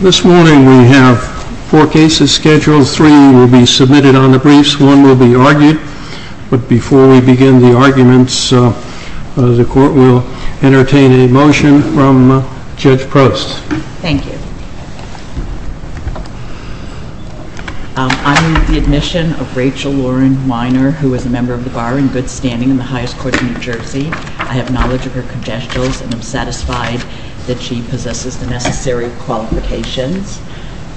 This morning we have four cases scheduled, three will be submitted on the briefs, one will be argued, but before we begin the arguments, the court will entertain a motion from Judge Prost. Thank you. On the admission of Rachel Lauren Weiner, who is a member of the bar in good standing in the highest court of New Jersey, I have knowledge of her congestions and am satisfied that she possesses the necessary qualifications.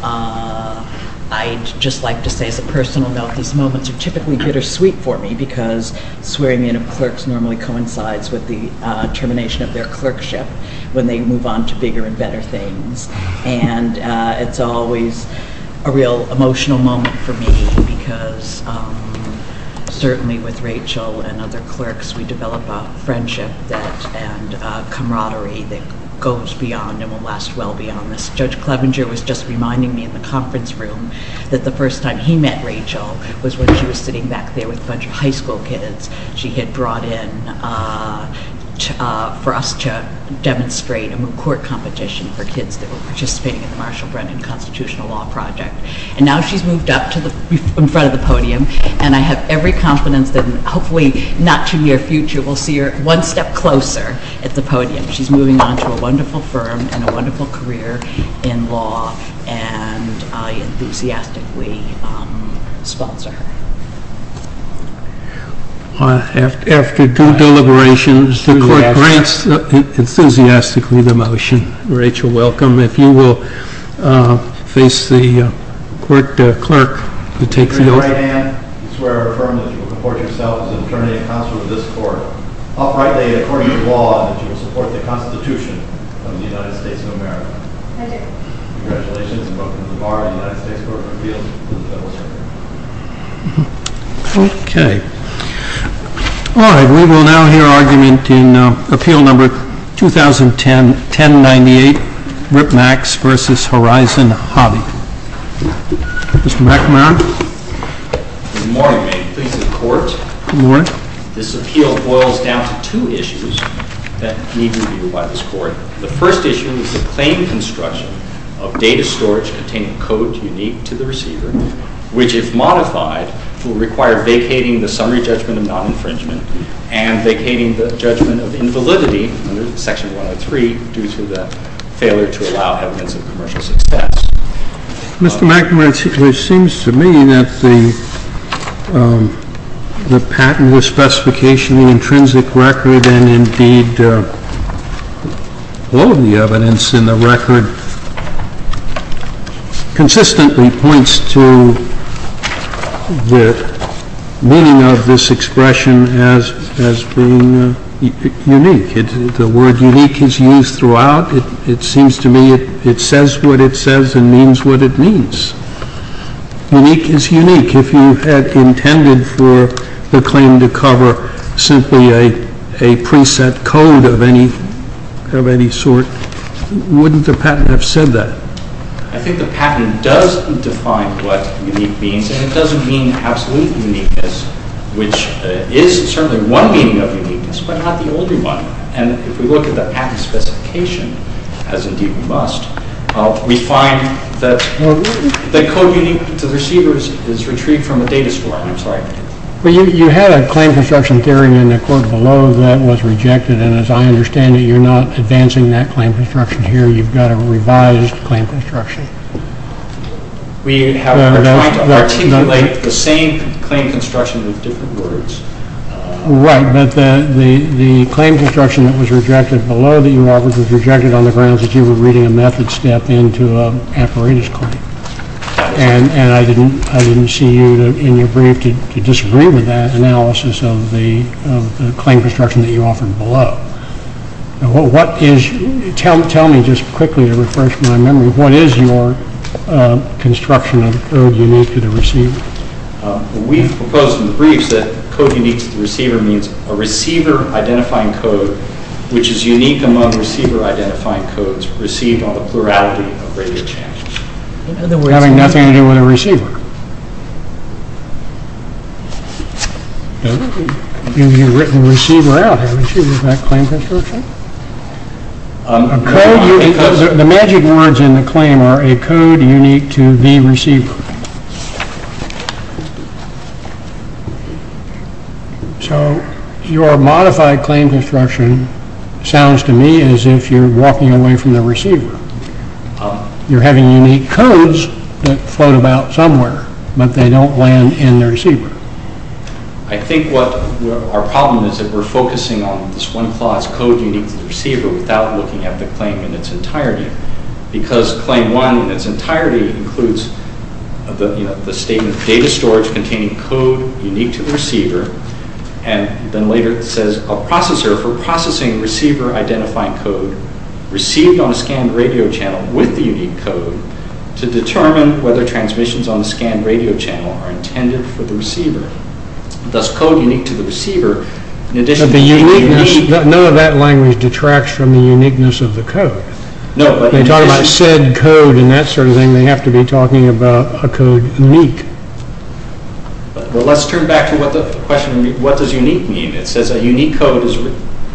I'd just like to say as a personal note, these moments are typically bittersweet for me because swearing in of clerks normally coincides with the termination of their clerkship when they move on to bigger and better things. And it's always a real emotional moment for me because certainly with Rachel and other clerks we develop a friendship and camaraderie that goes beyond and will last well beyond this. Judge Clevenger was just reminding me in the conference room that the first time he met Rachel was when she was sitting back there with a bunch of high school kids she had brought in for us to demonstrate a moot court competition for kids that were participating in the Marshall Brennan Constitutional Law Project. And now she's moved up to the front of the podium and I have every confidence that hopefully not too near future we'll see her one step closer at the podium. She's moving on to a wonderful firm and a wonderful career in law and I enthusiastically sponsor her. After due deliberation, the court grants enthusiastically the motion. Rachel, welcome. If you will face the clerk to take the oath. I swear and affirm that you will report yourself to the determining counsel of this court, uprightly and according to law, that you will support the Constitution of the United States of America. I do. Congratulations. Welcome to the Bar of the United States Court of Appeals. Okay. All right. We will now hear argument in Appeal Number 2010-1098, Ripmax v. Horizon Hobby. Mr. McMahon? Good morning, Mayor. Pleased to be in court. Good morning. This appeal boils down to two issues that need review by this court. The first issue is the claim construction of data storage containing code unique to the receiver, which if modified, will require vacating the summary judgment of non-infringement and vacating the judgment of invalidity under Section 103 due to the failure to allow evidence of commercial success. Mr. McMahon, it seems to me that the patent, the specification, the intrinsic record, and indeed all of the evidence in the record consistently points to the meaning of this expression as being unique. The word unique is used throughout. It seems to me it says what it says and means what it means. Unique is unique. If you had intended for the claim to cover simply a preset code of any sort, wouldn't the patent have said that? I think the patent does define what unique means, and it does mean absolute uniqueness, which is certainly one meaning of uniqueness, but not the older one. And if we look at the patent specification, as indeed we must, we find that code unique to the receivers is retrieved from the data storage. I'm sorry. Well, you had a claim construction theory in the court below that was rejected, and as I understand it, you're not advancing that claim construction here. You've got a revised claim construction. We are trying to articulate the same claim construction with different words. Right, but the claim construction that was rejected below that you offered was rejected on the grounds that you were reading a method step into an apparatus claim, and I didn't see you in your brief to disagree with that analysis of the claim construction that you offered below. Tell me just quickly to refresh my memory, what is your construction of code unique to the receiver? We've proposed in the briefs that code unique to the receiver means a receiver-identifying code which is unique among receiver-identifying codes received on the plurality of radio channels. And then we're having nothing to do with a receiver. You've written receiver out, haven't you, in that claim construction? The magic words in the claim are a code unique to the receiver. So your modified claim construction sounds to me as if you're walking away from the receiver. You're having unique codes that float about somewhere, but they don't land in the receiver. I think our problem is that we're focusing on this one clause, code unique to the receiver, without looking at the claim in its entirety. Because claim one in its entirety includes the statement, data storage containing code unique to the receiver, and then later it says a processor for processing receiver-identifying code received on a scanned radio channel with the unique code to determine whether transmissions on the scanned radio channel are intended for the receiver. Thus, code unique to the receiver, in addition to being unique... But none of that language detracts from the uniqueness of the code. When they talk about said code and that sort of thing, they have to be talking about a code unique. Well, let's turn back to the question, what does unique mean? It says a unique code is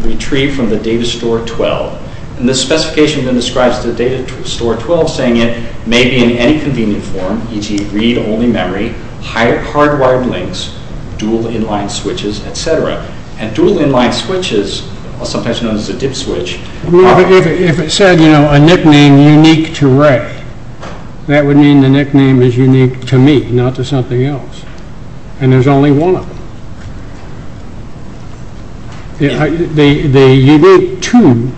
retrieved from the data store 12. And the specification then describes the data store 12 saying it may be in any convenient form, e.g. read-only memory, hardwired links, dual inline switches, etc. And dual inline switches, sometimes known as a DIP switch... If it said, you know, a nickname unique to Ray, that would mean the nickname is unique to me, not to something else. And there's only one of them. The unique to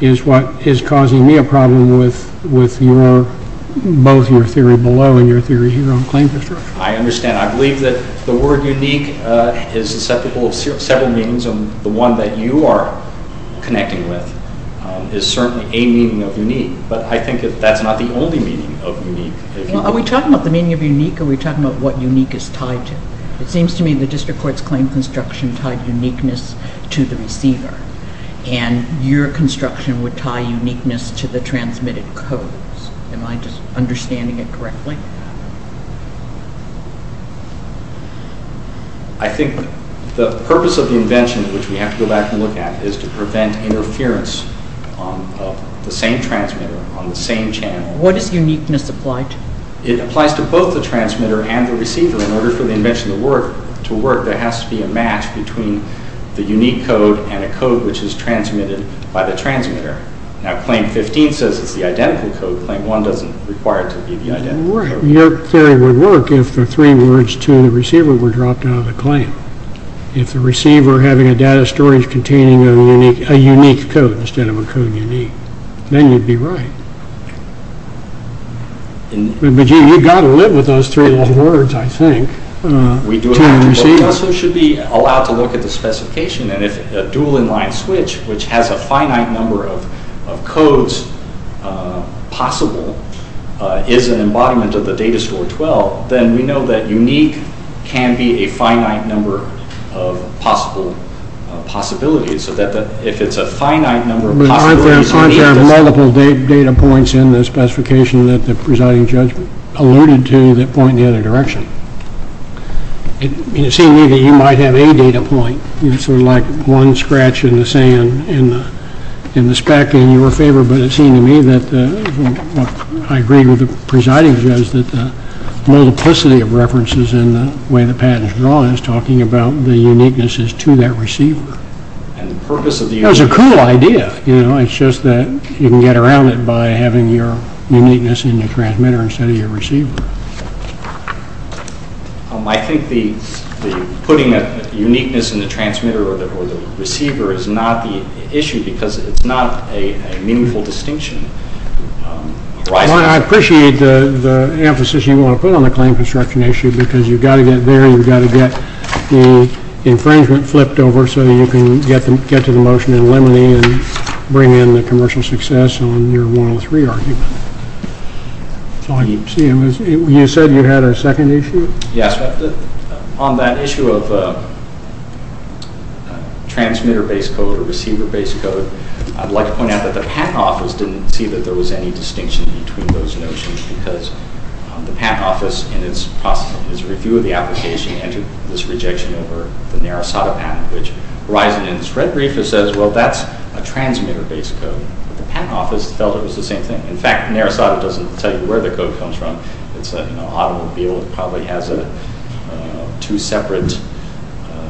is what is causing me a problem with both your theory below and your theory here on claim construction. I understand. I believe that the word unique is susceptible to several meanings, and the one that you are connecting with is certainly a meaning of unique. But I think that that's not the only meaning of unique. Are we talking about the meaning of unique, or are we talking about what unique is tied to? It seems to me the district court's claim construction tied uniqueness to the receiver, and your construction would tie uniqueness to the transmitted codes. Am I just understanding it correctly? I think the purpose of the invention, which we have to go back and look at, is to prevent interference of the same transmitter on the same channel. What does uniqueness apply to? It applies to both the transmitter and the receiver. In order for the invention to work, there has to be a match between the unique code and a code which is transmitted by the transmitter. Now, Claim 15 says it's the identical code. Claim 1 doesn't require it to be the identical code. Your theory would work if the three words to the receiver were dropped out of the claim. If the receiver having a data storage containing a unique code instead of a code unique, then you'd be right. But you've got to live with those three little words, I think. We do have to, but we also should be allowed to look at the specification, and if a dual-in-line switch, which has a finite number of codes possible, is an embodiment of the data store 12, then we know that unique can be a finite number of possible possibilities. But aren't there multiple data points in the specification that the presiding judge alluded to that point in the other direction? It seems to me that you might have a data point, sort of like one scratch in the sand in the speck in your favor, but it seems to me that what I agree with the presiding judge is that the multiplicity of references in the way the patent is drawn is talking about the uniquenesses to that receiver. That's a cool idea. It's just that you can get around it by having your uniqueness in the transmitter instead of your receiver. I think putting a uniqueness in the transmitter or the receiver is not the issue because it's not a meaningful distinction. I appreciate the emphasis you want to put on the claim construction issue because you've got to get there, you've got to get the infringement flipped over so that you can get to the motion in limine and bring in the commercial success on your 103 argument. You said you had a second issue? Yes. On that issue of transmitter-based code or receiver-based code, I'd like to point out that the patent office didn't see that there was any distinction between those notions because the patent office, in its process, in its review of the application, entered this rejection over the Narasota patent, which arises in this red brief. It says, well, that's a transmitter-based code. The patent office felt it was the same thing. In fact, Narasota doesn't tell you where the code comes from. It's an automobile that probably has two separate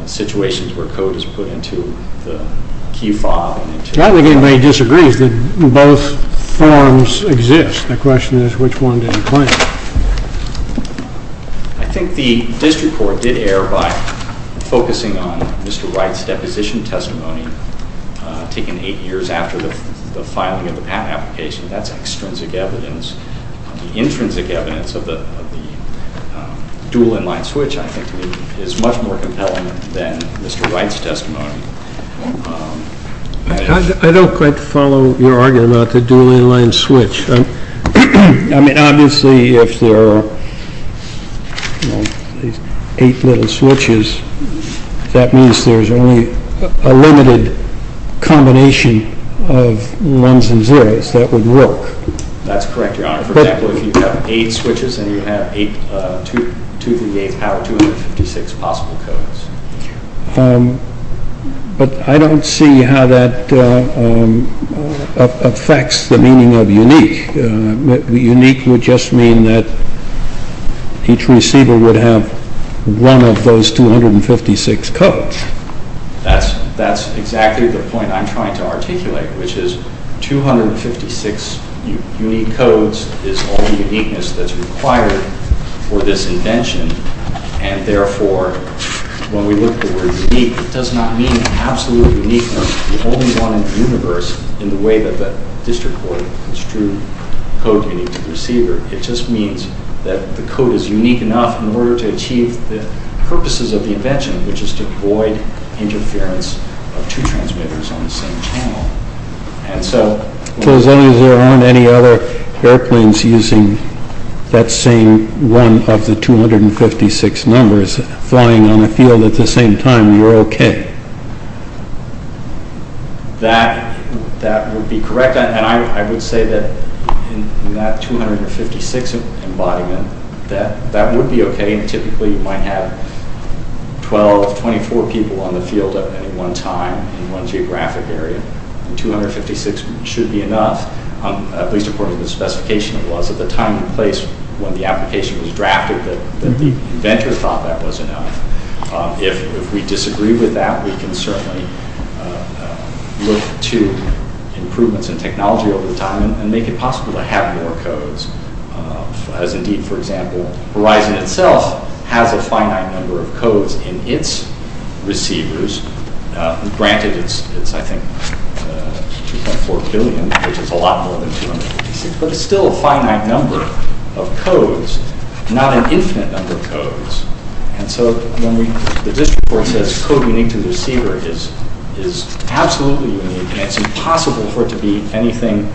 situations where code is put into the key fob. I don't think anybody disagrees that both forms exist. The question is, which one did you claim? I think the district court did err by focusing on Mr. Wright's deposition testimony taken eight years after the filing of the patent application. That's extrinsic evidence. The intrinsic evidence of the dual in-line switch, I think, is much more compelling than Mr. Wright's testimony. I don't quite follow your argument about the dual in-line switch. I mean, obviously, if there are eight little switches, that means there's only a limited combination of ones and zeros that would work. That's correct, Your Honor. For example, if you have eight switches and you have 238 power, 256 possible codes. But I don't see how that affects the meaning of unique. Unique would just mean that each receiver would have one of those 256 codes. That's exactly the point I'm trying to articulate, which is 256 unique codes is all the uniqueness that's required for this invention, and therefore, when we look at the word unique, it does not mean absolute uniqueness, the only one in the universe, in the way that the district court construed code unique to the receiver. It just means that the code is unique enough in order to achieve the purposes of the invention, which is to avoid interference of two transmitters on the same channel. So as long as there aren't any other airplanes using that same one of the 256 numbers flying on a field at the same time, you're okay? That would be correct, and I would say that in that 256 embodiment, that would be okay. Typically, you might have 12, 24 people on the field at any one time in one geographic area, and 256 should be enough, at least according to the specification. It was at the time and place when the application was drafted that the inventor thought that was enough. If we disagree with that, we can certainly look to improvements in technology over time and make it possible to have more codes. As indeed, for example, Verizon itself has a finite number of codes in its receivers. Granted, it's, I think, 2.4 billion, which is a lot more than 256, but it's still a finite number of codes, not an infinite number of codes. And so when the district court says code unique to the receiver is absolutely unique, and it's impossible for it to be anything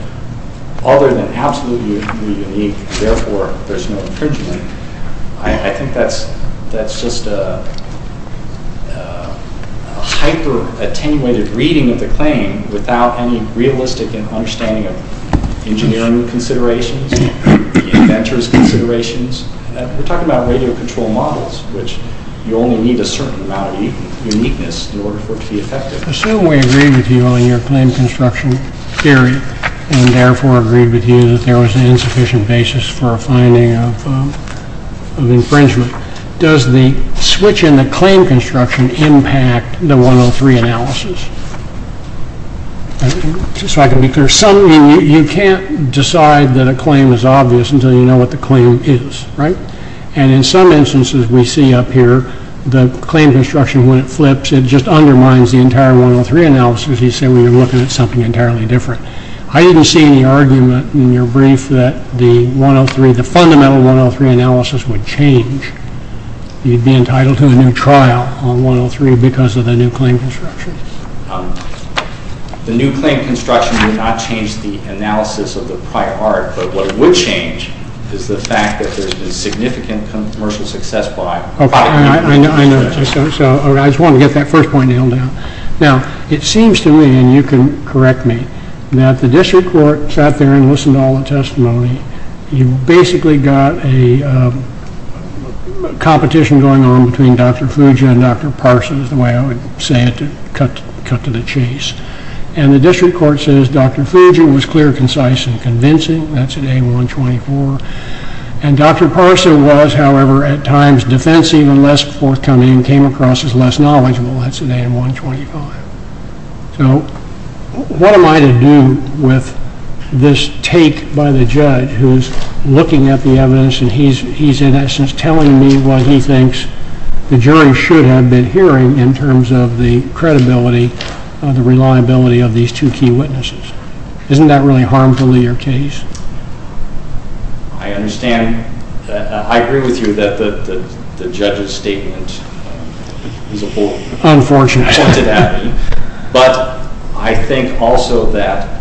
other than absolutely unique, therefore there's no infringement, I think that's just a hyper-attenuated reading of the claim without any realistic understanding of engineering considerations, inventor's considerations. We're talking about radio control models, which you only need a certain amount of uniqueness in order for it to be effective. Assume we agree with you on your claim construction theory and therefore agree with you that there was an insufficient basis for a finding of infringement. Does the switch in the claim construction impact the 103 analysis? Just so I can be clear, you can't decide that a claim is obvious until you know what the claim is, right? And in some instances we see up here the claim construction, when it flips, it just undermines the entire 103 analysis, as you say when you're looking at something entirely different. I didn't see any argument in your brief that the fundamental 103 analysis would change. You'd be entitled to a new trial on 103 because of the new claim construction. The new claim construction did not change the analysis of the prior art, but what would change is the fact that there's been significant commercial success by… Okay, I know. I just want to get that first point nailed down. Now, it seems to me, and you can correct me, that the district court sat there and listened to all the testimony. You basically got a competition going on between Dr. Fugia and Dr. Parsa, is the way I would say it to cut to the chase. And the district court says Dr. Fugia was clear, concise, and convincing. That's at A124. And Dr. Parsa was, however, at times defensive and less forthcoming and came across as less knowledgeable. That's at A125. So what am I to do with this take by the judge who's looking at the evidence and he's in essence telling me what he thinks the jury should have been hearing in terms of the credibility, the reliability of these two key witnesses? Isn't that really harmful to your case? I understand. I agree with you that the judge's statement is a whole… Unfortunate. …pointed at me. But I think also that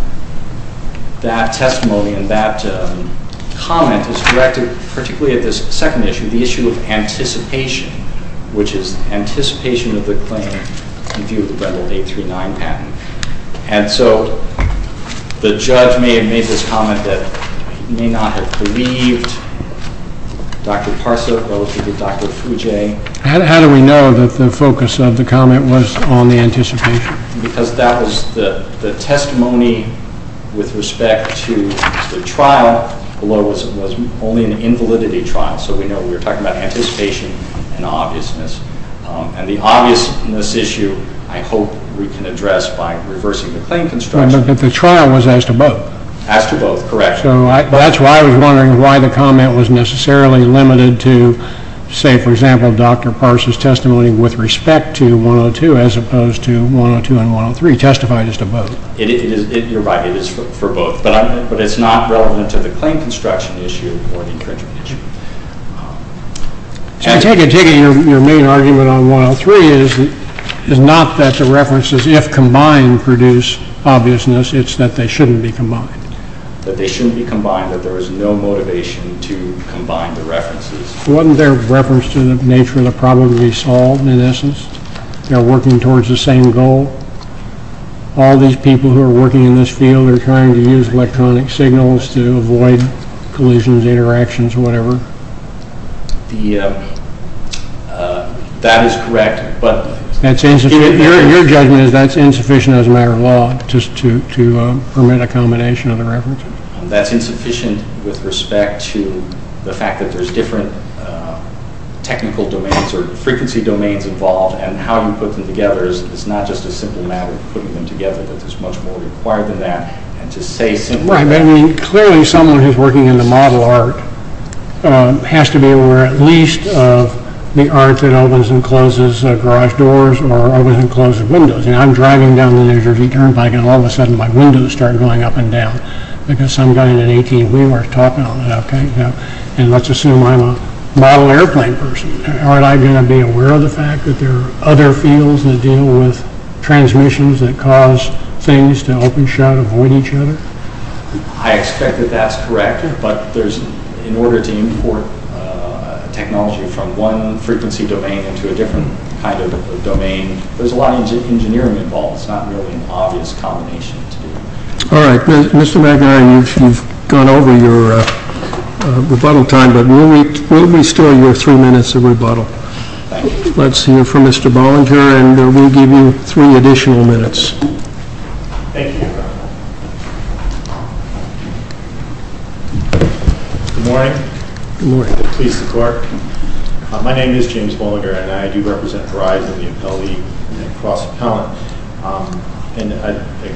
that testimony and that comment is directed particularly at this second issue, the issue of anticipation, which is anticipation of the claim in view of the Brendel 839 patent. And so the judge may have made this comment that he may not have believed Dr. Parsa relative to Dr. Fugia. How do we know that the focus of the comment was on the anticipation? Because that was the testimony with respect to the trial below was only an invalidity trial. So we know we were talking about anticipation and obviousness. And the obviousness issue I hope we can address by reversing the claim construction. But the trial was as to both. As to both. Correct. So that's why I was wondering why the comment was necessarily limited to, say, for example, Dr. Parsa's testimony with respect to 102 as opposed to 102 and 103, testified as to both. You're right. It is for both. But it's not relevant to the claim construction issue or the infringement issue. I take it your main argument on 103 is not that the references, if combined, produce obviousness. It's that they shouldn't be combined. That they shouldn't be combined. That there is no motivation to combine the references. Wasn't there reference to the nature of the problem to be solved in essence? They're working towards the same goal. All these people who are working in this field are trying to use electronic signals to avoid collisions, interactions, whatever. That is correct. Your judgment is that's insufficient as a matter of law to permit a combination of the references? That's insufficient with respect to the fact that there's different technical domains or frequency domains involved and how you put them together. It's not just a simple matter of putting them together. There's much more required than that. Clearly someone who's working in the model art has to be aware at least of the art that opens and closes garage doors or opens and closes windows. I'm driving down the New Jersey Turnpike and all of a sudden my windows start going up and down. Because some guy in an ATV was talking about that. Let's assume I'm a model airplane person. Aren't I going to be aware of the fact that there are other fields that deal with transmissions that cause things to open, shut, avoid each other? I expect that that's correct. But in order to import technology from one frequency domain into a different kind of domain, there's a lot of engineering involved. It's not really an obvious combination to do. All right. Mr. McInerney, you've gone over your rebuttal time, but we'll be still your three minutes of rebuttal. Thank you. Let's hear from Mr. Bollinger, and we'll give you three additional minutes. Thank you, Your Honor. Good morning. Good morning. Please support. My name is James Bollinger, and I do represent Verizon, the Appellee, and Cross Appellant.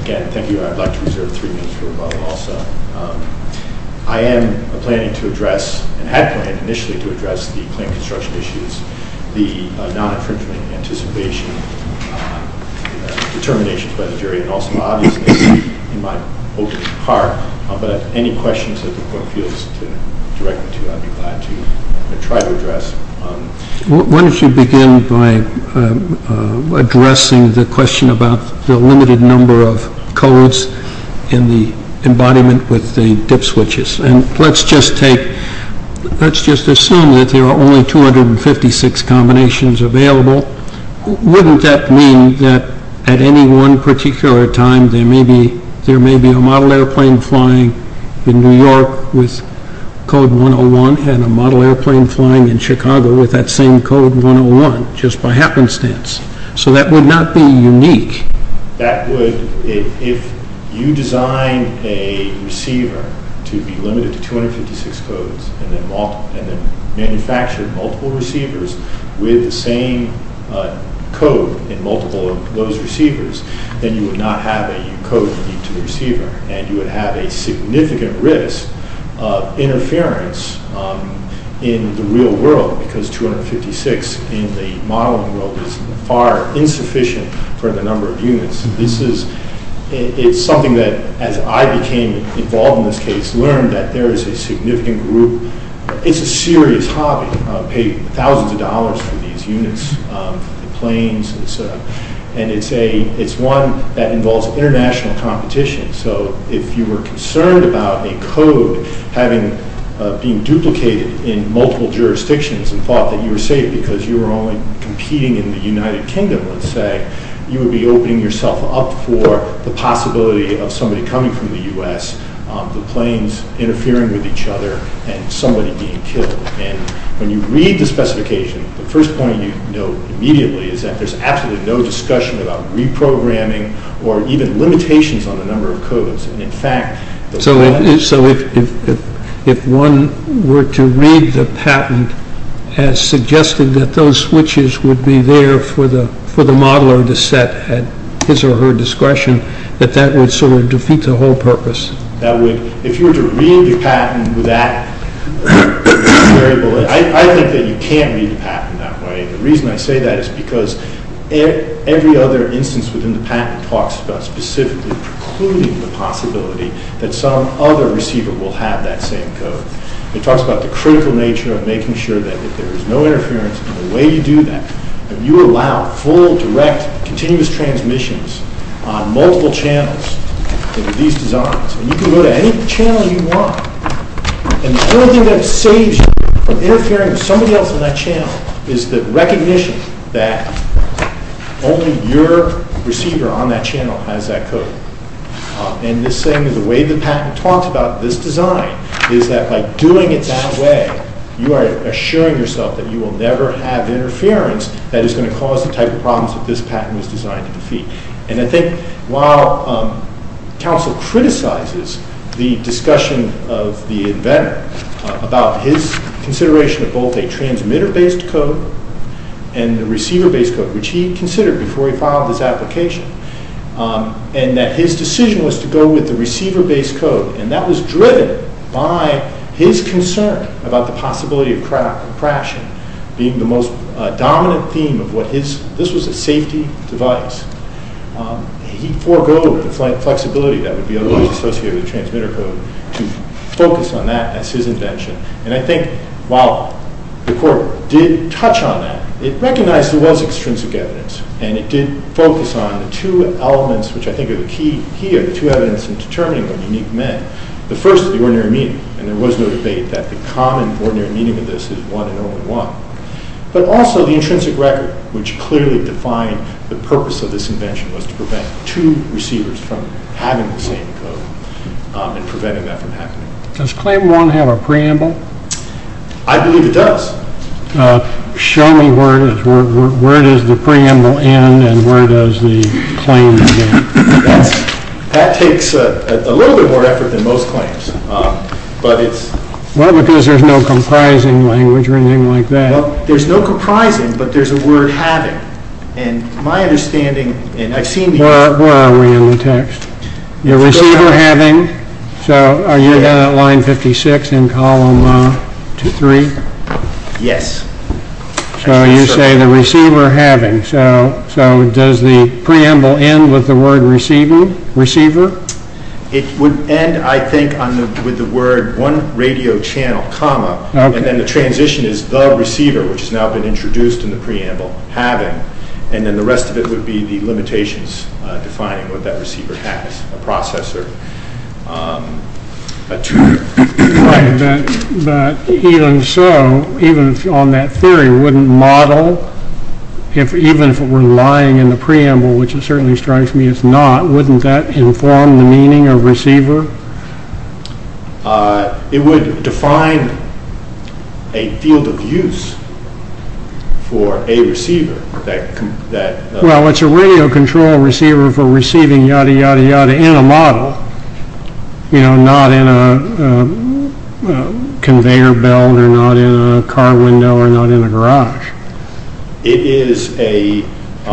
Again, thank you. I'd like to reserve three minutes for rebuttal also. I am planning to address and had planned initially to address the plane construction issues, the non-infringement anticipation determinations by the jury, and also, obviously, in my open heart. But if there are any questions that the Court feels to direct me to, I'd be glad to try to address. Why don't you begin by addressing the question about the limited number of codes in the embodiment with the DIP switches. Let's just assume that there are only 256 combinations available. Wouldn't that mean that at any one particular time, there may be a model airplane flying in New York with code 101 and a model airplane flying in Chicago with that same code 101 just by happenstance? So that would not be unique. If you designed a receiver to be limited to 256 codes and then manufactured multiple receivers with the same code in multiple of those receivers, then you would not have a code unique to the receiver, and you would have a significant risk of interference in the real world because 256 in the modeling world is far insufficient for the number of units. It's something that, as I became involved in this case, learned that there is a significant group. It's a serious hobby to pay thousands of dollars for these units, for the planes. And it's one that involves international competition. So if you were concerned about a code being duplicated in multiple jurisdictions and thought that you were safe because you were only competing in the United Kingdom, let's say, you would be opening yourself up for the possibility of somebody coming from the U.S., the planes interfering with each other, and somebody being killed. And when you read the specification, the first point you note immediately is that there's absolutely no discussion about reprogramming or even limitations on the number of codes. So if one were to read the patent as suggesting that those switches would be there for the modeler to set at his or her discretion, that that would sort of defeat the whole purpose. If you were to read the patent with that variable, I think that you can't read the patent that way. And the reason I say that is because every other instance within the patent talks about specifically precluding the possibility that some other receiver will have that same code. It talks about the critical nature of making sure that if there is no interference, and the way you do that, you allow full, direct, continuous transmissions on multiple channels into these designs. And you can go to any channel you want. And the only thing that saves you from interfering with somebody else in that channel is the recognition that only your receiver on that channel has that code. And the way the patent talks about this design is that by doing it that way, you are assuring yourself that you will never have interference that is going to cause the type of problems that this patent was designed to defeat. And I think while counsel criticizes the discussion of the inventor about his consideration of both a transmitter-based code and the receiver-based code, which he considered before he filed his application, and that his decision was to go with the receiver-based code, and that was driven by his concern about the possibility of crashing, being the most dominant theme of what his, this was a safety device. He foregoed the flexibility that would be otherwise associated with the transmitter code to focus on that as his invention. And I think while the court did touch on that, it recognized there was extrinsic evidence. And it did focus on the two elements which I think are the key here, the two evidence in determining what unique meant. The first is the ordinary meaning. And there was no debate that the common ordinary meaning of this is one and only one. But also the intrinsic record, which clearly defined the purpose of this invention was to prevent two receivers from having the same code and preventing that from happening. Does Claim 1 have a preamble? I believe it does. Show me where it is. Where does the preamble end and where does the claim begin? That takes a little bit more effort than most claims. Well, because there's no comprising language or anything like that. Well, there's no comprising, but there's a word having. And my understanding, and I've seen these. Where are we in the text? The receiver having. So are you down at line 56 in column 3? Yes. So you say the receiver having. So does the preamble end with the word receiver? It would end, I think, with the word one radio channel comma. And then the transition is the receiver, which has now been introduced in the preamble, having. And then the rest of it would be the limitations defining what that receiver has, a processor. Right. But even so, even on that theory, wouldn't model, even if it were lying in the preamble, which it certainly strikes me is not, wouldn't that inform the meaning of receiver? It would define a field of use for a receiver. Well, it's a radio control receiver for receiving yada, yada, yada in a model. You know, not in a conveyor belt or not in a car window or not in a garage. It is a... To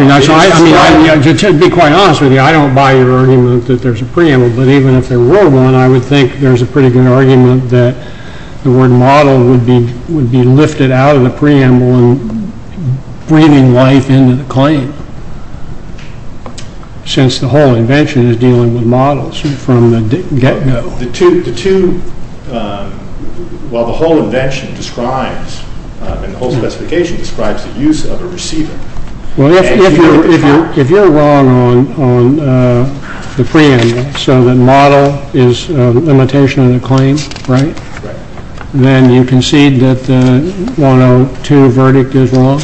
be quite honest with you, I don't buy your argument that there's a preamble. But even if there were one, I would think there's a pretty good argument that the word model would be lifted out of the preamble and breathing life into the claim. Since the whole invention is dealing with models from the get-go. The two, while the whole invention describes, the whole specification describes the use of a receiver. Well, if you're wrong on the preamble, so the model is a limitation of the claim, right? Right. Then you concede that the 102 verdict is wrong?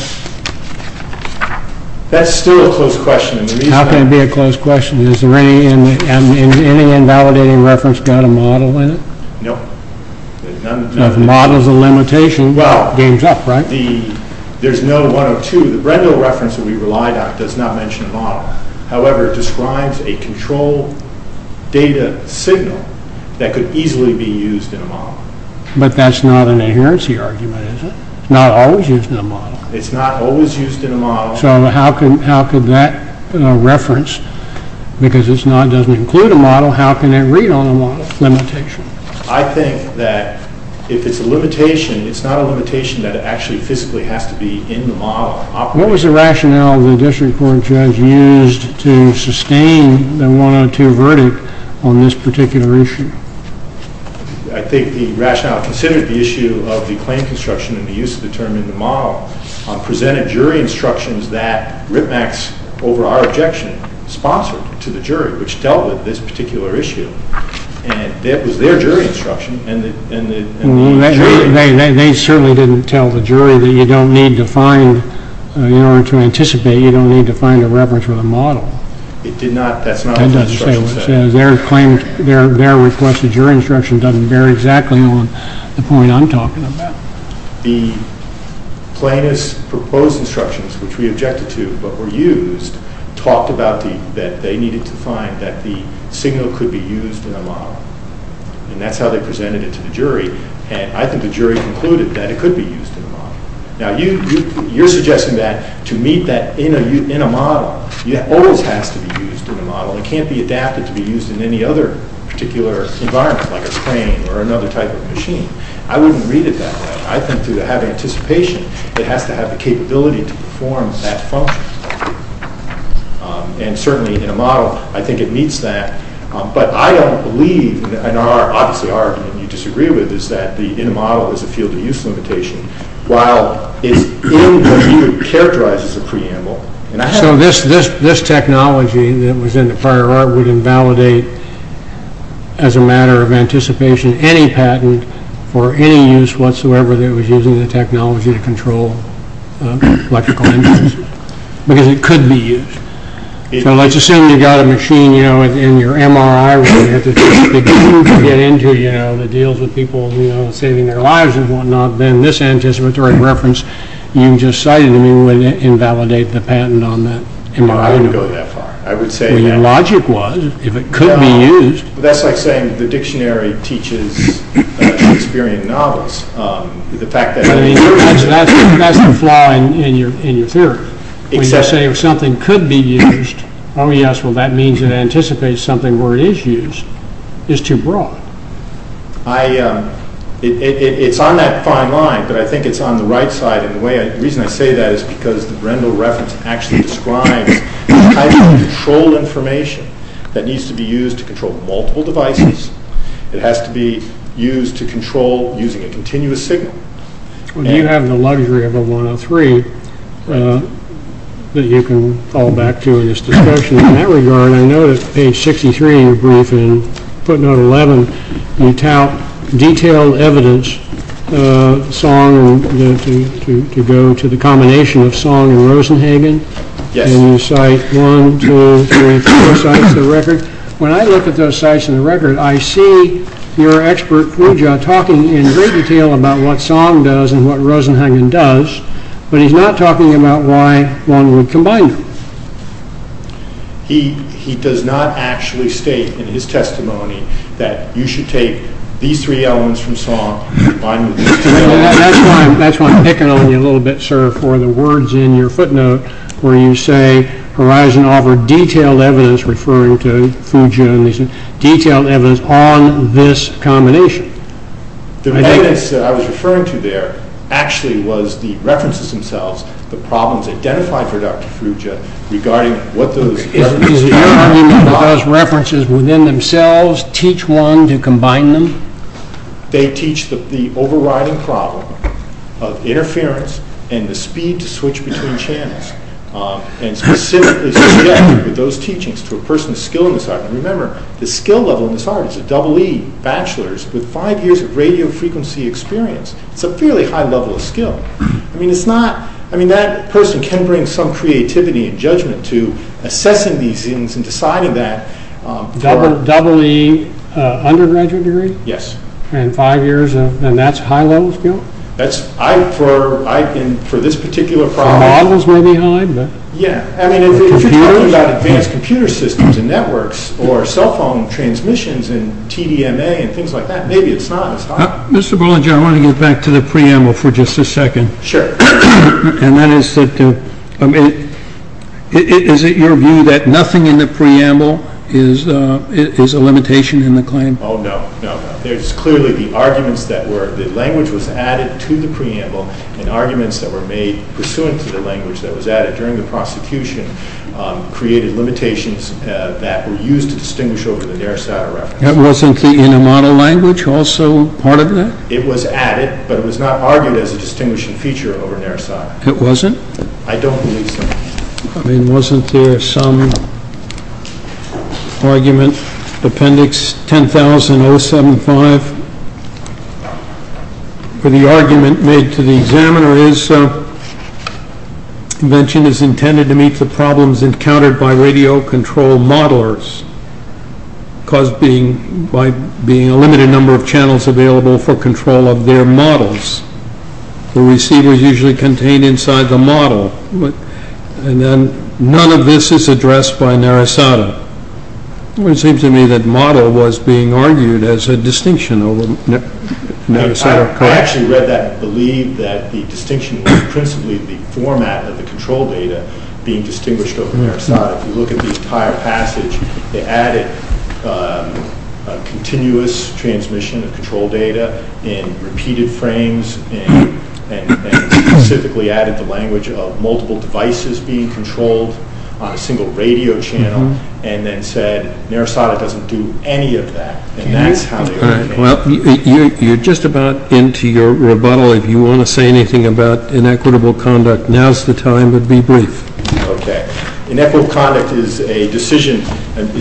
That's still a close question. How can it be a close question? Has any invalidating reference got a model in it? No. If the model's a limitation, the game's up, right? There's no 102. The Brendel reference that we relied on does not mention a model. However, it describes a control data signal that could easily be used in a model. But that's not an adherency argument, is it? It's not always used in a model. It's not always used in a model. So how could that reference, because it doesn't include a model, how can it read on a model, limitation? I think that if it's a limitation, it's not a limitation that it actually physically has to be in the model. What was the rationale the district court judge used to sustain the 102 verdict on this particular issue? I think the rationale considered the issue of the claim construction and the use of the term in the model presented jury instructions that Ripmack's, over our objection, sponsored to the jury, which dealt with this particular issue. And it was their jury instruction and the jury. They certainly didn't tell the jury that you don't need to find, in order to anticipate, you don't need to find a reference with a model. That's not what the instruction said. Their claim, their request, the jury instruction, doesn't bear exactly on the point I'm talking about. The plaintiff's proposed instructions, which we objected to but were used, talked about that they needed to find that the signal could be used in a model. And that's how they presented it to the jury. And I think the jury concluded that it could be used in a model. Now, you're suggesting that to meet that in a model, it always has to be used in a model. It can't be adapted to be used in any other particular environment, like a crane or another type of machine. I wouldn't read it that way. I think to have anticipation, it has to have the capability to perform that function. And certainly in a model, I think it meets that. But I don't believe, and obviously our argument you disagree with, is that in a model there's a field of use limitation. While it's in what you would characterize as a preamble. So this technology that was in the prior art would invalidate, as a matter of anticipation, any patent for any use whatsoever that was used in the technology to control electrical engines. Because it could be used. So let's assume you've got a machine in your MRI where you have to get into the deals with people saving their lives and whatnot. Then this anticipatory reference you just cited, it wouldn't invalidate the patent on that MRI. I wouldn't go that far. Well, your logic was, if it could be used. That's like saying the dictionary teaches non-experient novels. That's the flaw in your theory. When you say something could be used, that means it anticipates something where it is used. It's too broad. It's on that fine line, but I think it's on the right side. The reason I say that is because the Brembo reference actually describes the type of control information that needs to be used to control multiple devices. It has to be used to control using a continuous signal. You have the luxury of a 103 that you can fall back to in this discussion. In that regard, I know that page 63 in your briefing, footnote 11, you tout detailed evidence, Song, to go to the combination of Song and Rosenhagen. And you cite one, two, three, four sites in the record. I see your expert, Fuja, talking in great detail about what Song does and what Rosenhagen does, but he's not talking about why one would combine them. He does not actually state in his testimony that you should take these three elements from Song and combine them. That's why I'm picking on you a little bit, sir, for the words in your footnote where you say, Horizon offered detailed evidence, referring to Fuja, detailed evidence on this combination. The evidence that I was referring to there actually was the references themselves, the problems identified for Dr. Fuja regarding what those references were. Is the argument that those references within themselves teach one to combine them? They teach the overriding problem of interference and the speed to switch between channels, and specifically subjected with those teachings to a person of skill in this art. Remember, the skill level in this art is a double E, bachelor's, with five years of radio frequency experience. It's a fairly high level of skill. That person can bring some creativity and judgment to assessing these things and deciding that. A double E undergraduate degree? Yes. And that's high level skill? For this particular problem? Models may be high. Yeah. If you're talking about advanced computer systems and networks or cell phone transmissions and TDMA and things like that, maybe it's not as high. Mr. Bullinger, I want to get back to the preamble for just a second. Sure. Is it your view that nothing in the preamble is a limitation in the claim? Oh, no. No, no. There's clearly the arguments that were the language was added to the preamble and arguments that were made pursuant to the language that was added during the prosecution created limitations that were used to distinguish over the Narasata reference. That wasn't the inner model language also part of that? It was added, but it was not argued as a distinguishing feature over Narasata. It wasn't? I don't believe so. I mean, wasn't there some argument, Appendix 10075, where the argument made to the examiner is convention is intended to meet the problems encountered by radio control modelers caused by being a limited number of channels available for control of their models. The receiver is usually contained inside the model. None of this is addressed by Narasata. It seems to me that model was being argued as a distinction over Narasata. I actually read that and believe that the distinction was principally the format of the control data being distinguished over Narasata. If you look at the entire passage, they added a continuous transmission of control data in repeated frames and specifically added the language of multiple devices being controlled on a single radio channel and then said Narasata doesn't do any of that, and that's how they were made. You're just about into your rebuttal. If you want to say anything about inequitable conduct, now's the time, but be brief. Inequitable conduct is a decision,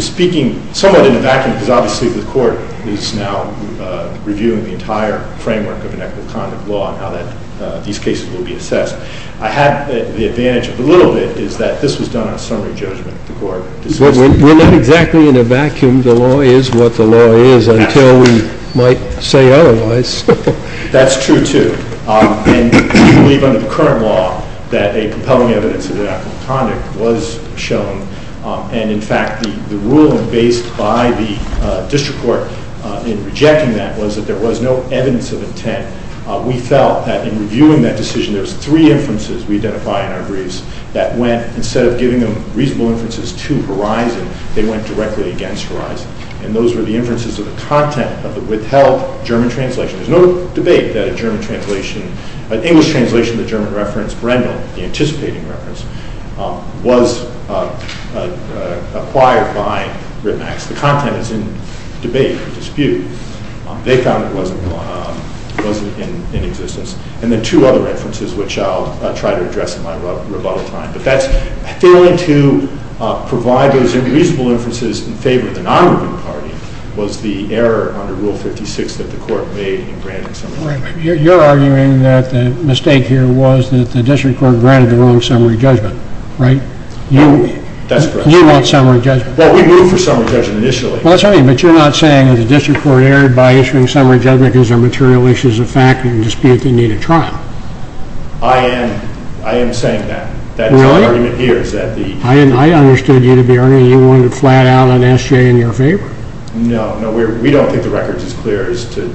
speaking somewhat in a vacuum, because obviously the court is now reviewing the entire framework of inequitable conduct law and how these cases will be assessed. I have the advantage of a little bit is that this was done on summary judgment. We're not exactly in a vacuum. The law is what the law is until we might say otherwise. That's true, too. We believe under the current law that a compelling evidence of inequitable conduct was shown, and in fact the ruling based by the district court in rejecting that was that there was no evidence of intent. We felt that in reviewing that decision there was three inferences we identify in our briefs that went, instead of giving them reasonable inferences to Horizon, they went directly against Horizon, and those were the inferences of the content of the withheld German translation. There's no debate that a German translation, an English translation of the German reference, Brendan, the anticipating reference, was acquired by Ritmax. The content is in debate and dispute. They found it wasn't in existence. And then two other inferences, which I'll try to address in my rebuttal time, but that's failing to provide those reasonable inferences in favor of the non-Ritman party was the error under Rule 56 that the court made in granting summary judgment. You're arguing that the mistake here was that the district court granted the wrong summary judgment, right? No, that's correct. We want summary judgment. Well, we moved for summary judgment initially. That's right, but you're not saying that the district court erred by issuing summary judgment because there are material issues of fact and dispute that need a trial. I am saying that. Really? That's the argument here. I understood you to be arguing you wanted flat out an S.J. in your favor. No, we don't think the record is as clear as to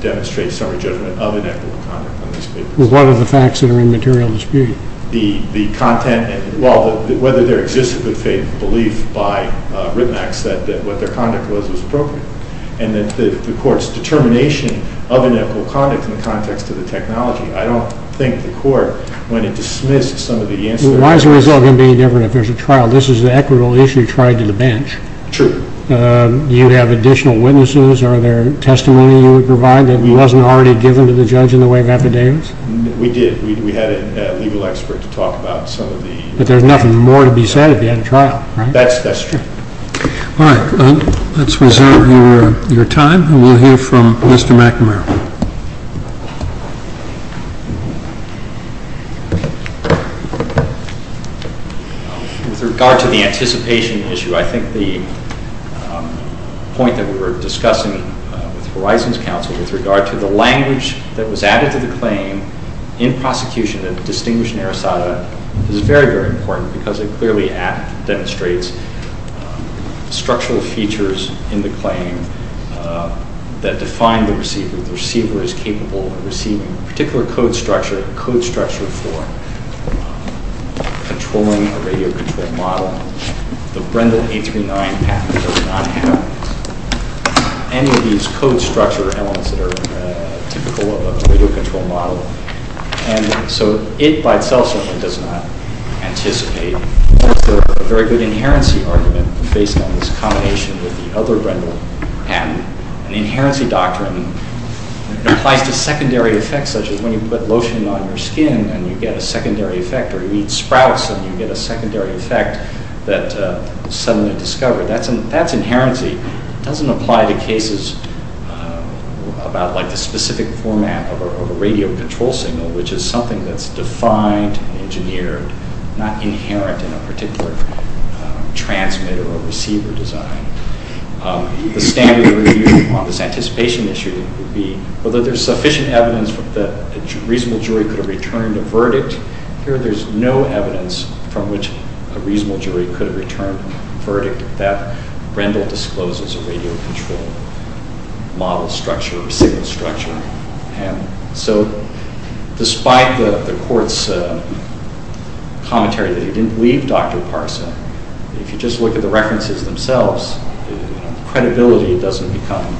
demonstrate summary judgment of inequitable conduct on these papers. Well, what are the facts that are in material dispute? The content, well, whether there exists a good faith belief by Ritmax that what their conduct was was appropriate. And that the court's determination of inequitable conduct in the context of the technology, I don't think the court, when it dismissed some of the incidents. Why is the result going to be different if there's a trial? This is an equitable issue tried to the bench. True. Do you have additional witnesses? Are there testimony you would provide that wasn't already given to the judge in the way of affidavits? We did. We had a legal expert to talk about some of the... But there's nothing more to be said if you had a trial, right? That's true. All right. Let's reserve your time, and we'll hear from Mr. McNamara. With regard to the anticipation issue, I think the point that we were discussing with Verizon's counsel with regard to the language that was added to the claim in prosecution that distinguished Narasata is very, very important because it clearly demonstrates structural features in the claim that define the receiver. The receiver is capable of receiving a particular code structure, a code structure for controlling a radio control model. The Brendel 839 patent does not have any of these code structure elements that are typical of a radio control model. And so it by itself certainly does not anticipate. Also, a very good inherency argument based on this combination with the other Brendel patent, an inherency doctrine applies to secondary effects, such as when you put lotion on your skin and you get a secondary effect, or you eat sprouts and you get a secondary effect that is suddenly discovered. That's inherency. It doesn't apply to cases about like the specific format of a radio control signal, which is something that's defined, engineered, not inherent in a particular transmitter or receiver design. The standard review on this anticipation issue would be, whether there's sufficient evidence that a reasonable jury could have returned a verdict. Here there's no evidence from which a reasonable jury could have returned a verdict that Brendel discloses a radio control model structure or signal structure. And so despite the court's commentary that he didn't leave Dr. Parsa, if you just look at the references themselves, credibility doesn't become...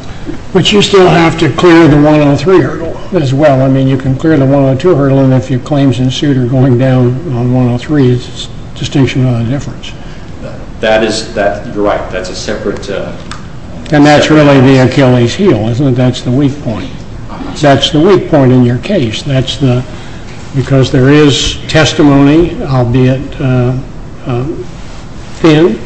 But you still have to clear the 103 hurdle as well. I mean, you can clear the 102 hurdle, and if your claims ensued are going down on 103, it's a distinction on the difference. That is, you're right, that's a separate... And that's really the Achilles heel, isn't it? That's the weak point. That's the weak point in your case. Because there is testimony, albeit thin,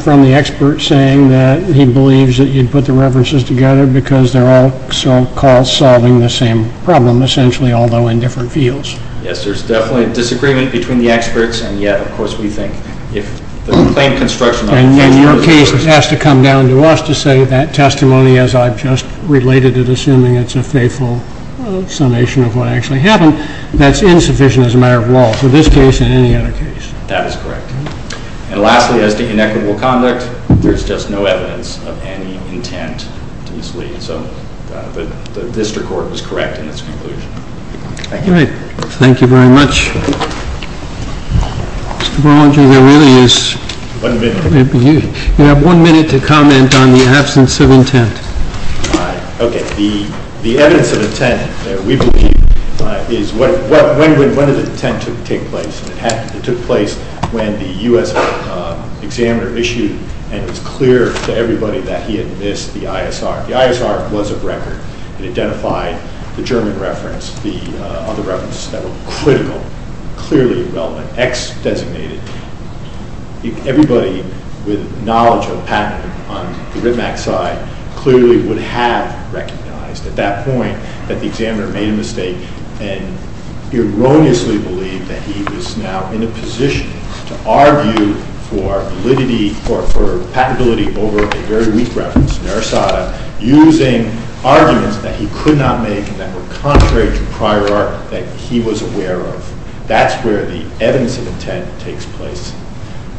from the expert, saying that he believes that you'd put the references together because they're all so-called solving the same problem, essentially, although in different fields. Yes, there's definitely a disagreement between the experts, and yet, of course, we think if... And your case has to come down to us to say that testimony, as I've just related it, assuming it's a faithful summation of what actually happened, that's insufficient as a matter of law for this case and any other case. That is correct. And lastly, as to inequitable conduct, there's just no evidence of any intent to mislead. So the district court was correct in its conclusion. Thank you. Thank you very much. Mr. Berlinger, there really is... One minute. You have one minute to comment on the absence of intent. Okay. The evidence of intent that we believe is... When did the intent take place? It took place when the U.S. examiner issued and was clear to everybody that he had missed the ISR. The ISR was a record. It identified the German reference, the other references that were critical, clearly relevant, ex-designated. Everybody with knowledge of patent on the RITMAC side clearly would have recognized at that point that the examiner made a mistake and erroneously believed that he was now in a position to argue for validity or for patentability over a very weak reference, Narasata, using arguments that he could not make and that were contrary to prior art that he was aware of. That's where the evidence of intent takes place.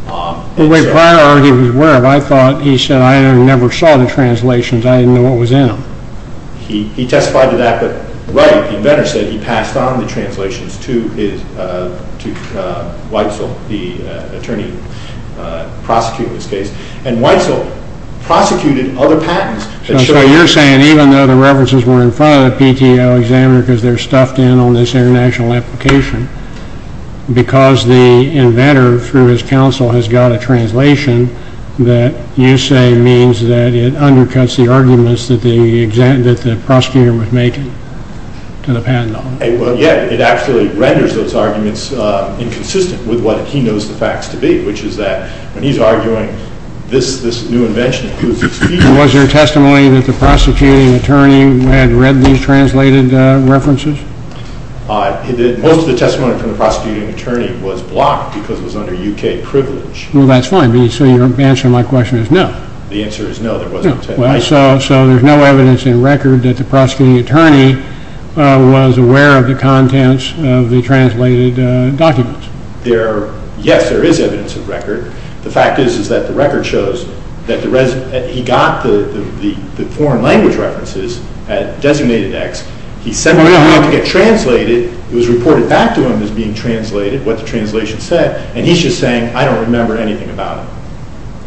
But wait, prior art he was aware of. I thought he said, I never saw the translations. I didn't know what was in them. He testified to that. But right, the inventor said he passed on the translations to Weitzel, the attorney prosecuting this case. And Weitzel prosecuted other patents. So you're saying even though the references were in front of the PTO examiner because they're stuffed in on this international application, because the inventor, through his counsel, has got a translation, that you say means that it undercuts the arguments that the prosecutor was making to the patent on it. Yeah, it actually renders those arguments inconsistent with what he knows the facts to be, which is that when he's arguing this new invention includes its features. Was there testimony that the prosecuting attorney had read these translated references? Most of the testimony from the prosecuting attorney was blocked because it was under U.K. privilege. Well, that's fine. So your answer to my question is no. The answer is no, there wasn't. So there's no evidence in record that the prosecuting attorney was aware of the contents of the translated documents. Yes, there is evidence of record. The fact is that the record shows that he got the foreign language references at designated X. He said, well, we don't want it to get translated. It was reported back to him as being translated, what the translation said. And he's just saying, I don't remember anything about it.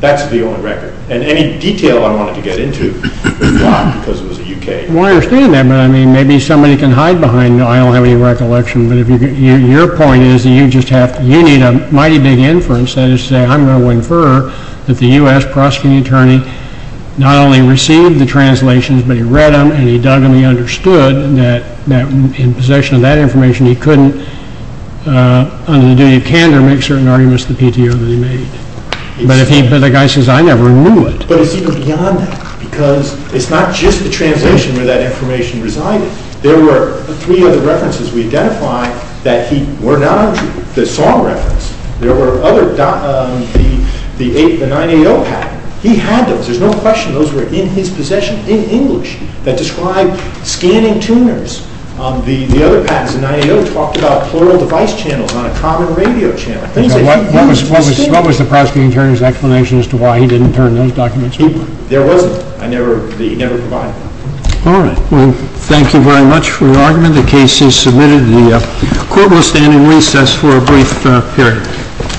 That's the only record. And any detail I wanted to get into was blocked because it was a U.K. Well, I understand that. But, I mean, maybe somebody can hide behind, I don't have any recollection. But your point is that you need a mighty big inference. That is to say, I'm going to infer that the U.S. prosecuting attorney not only received the translations, but he read them and he dug them and he understood that in possession of that information, he couldn't, under the duty of candor, make certain arguments to the PTO that he made. But the guy says, I never knew it. But it's even beyond that because it's not just the translation where that information resided. There were three other references we identified that were not untrue. The song reference. There were other, the 980 patent. He had those. There's no question those were in his possession in English that described scanning tuners. The other patents, the 980 talked about plural device channels on a common radio channel. What was the prosecuting attorney's explanation as to why he didn't turn those documents over? There wasn't. I never provided that. All right. Well, thank you very much for your argument. The case is submitted. The court will stand in recess for a brief period.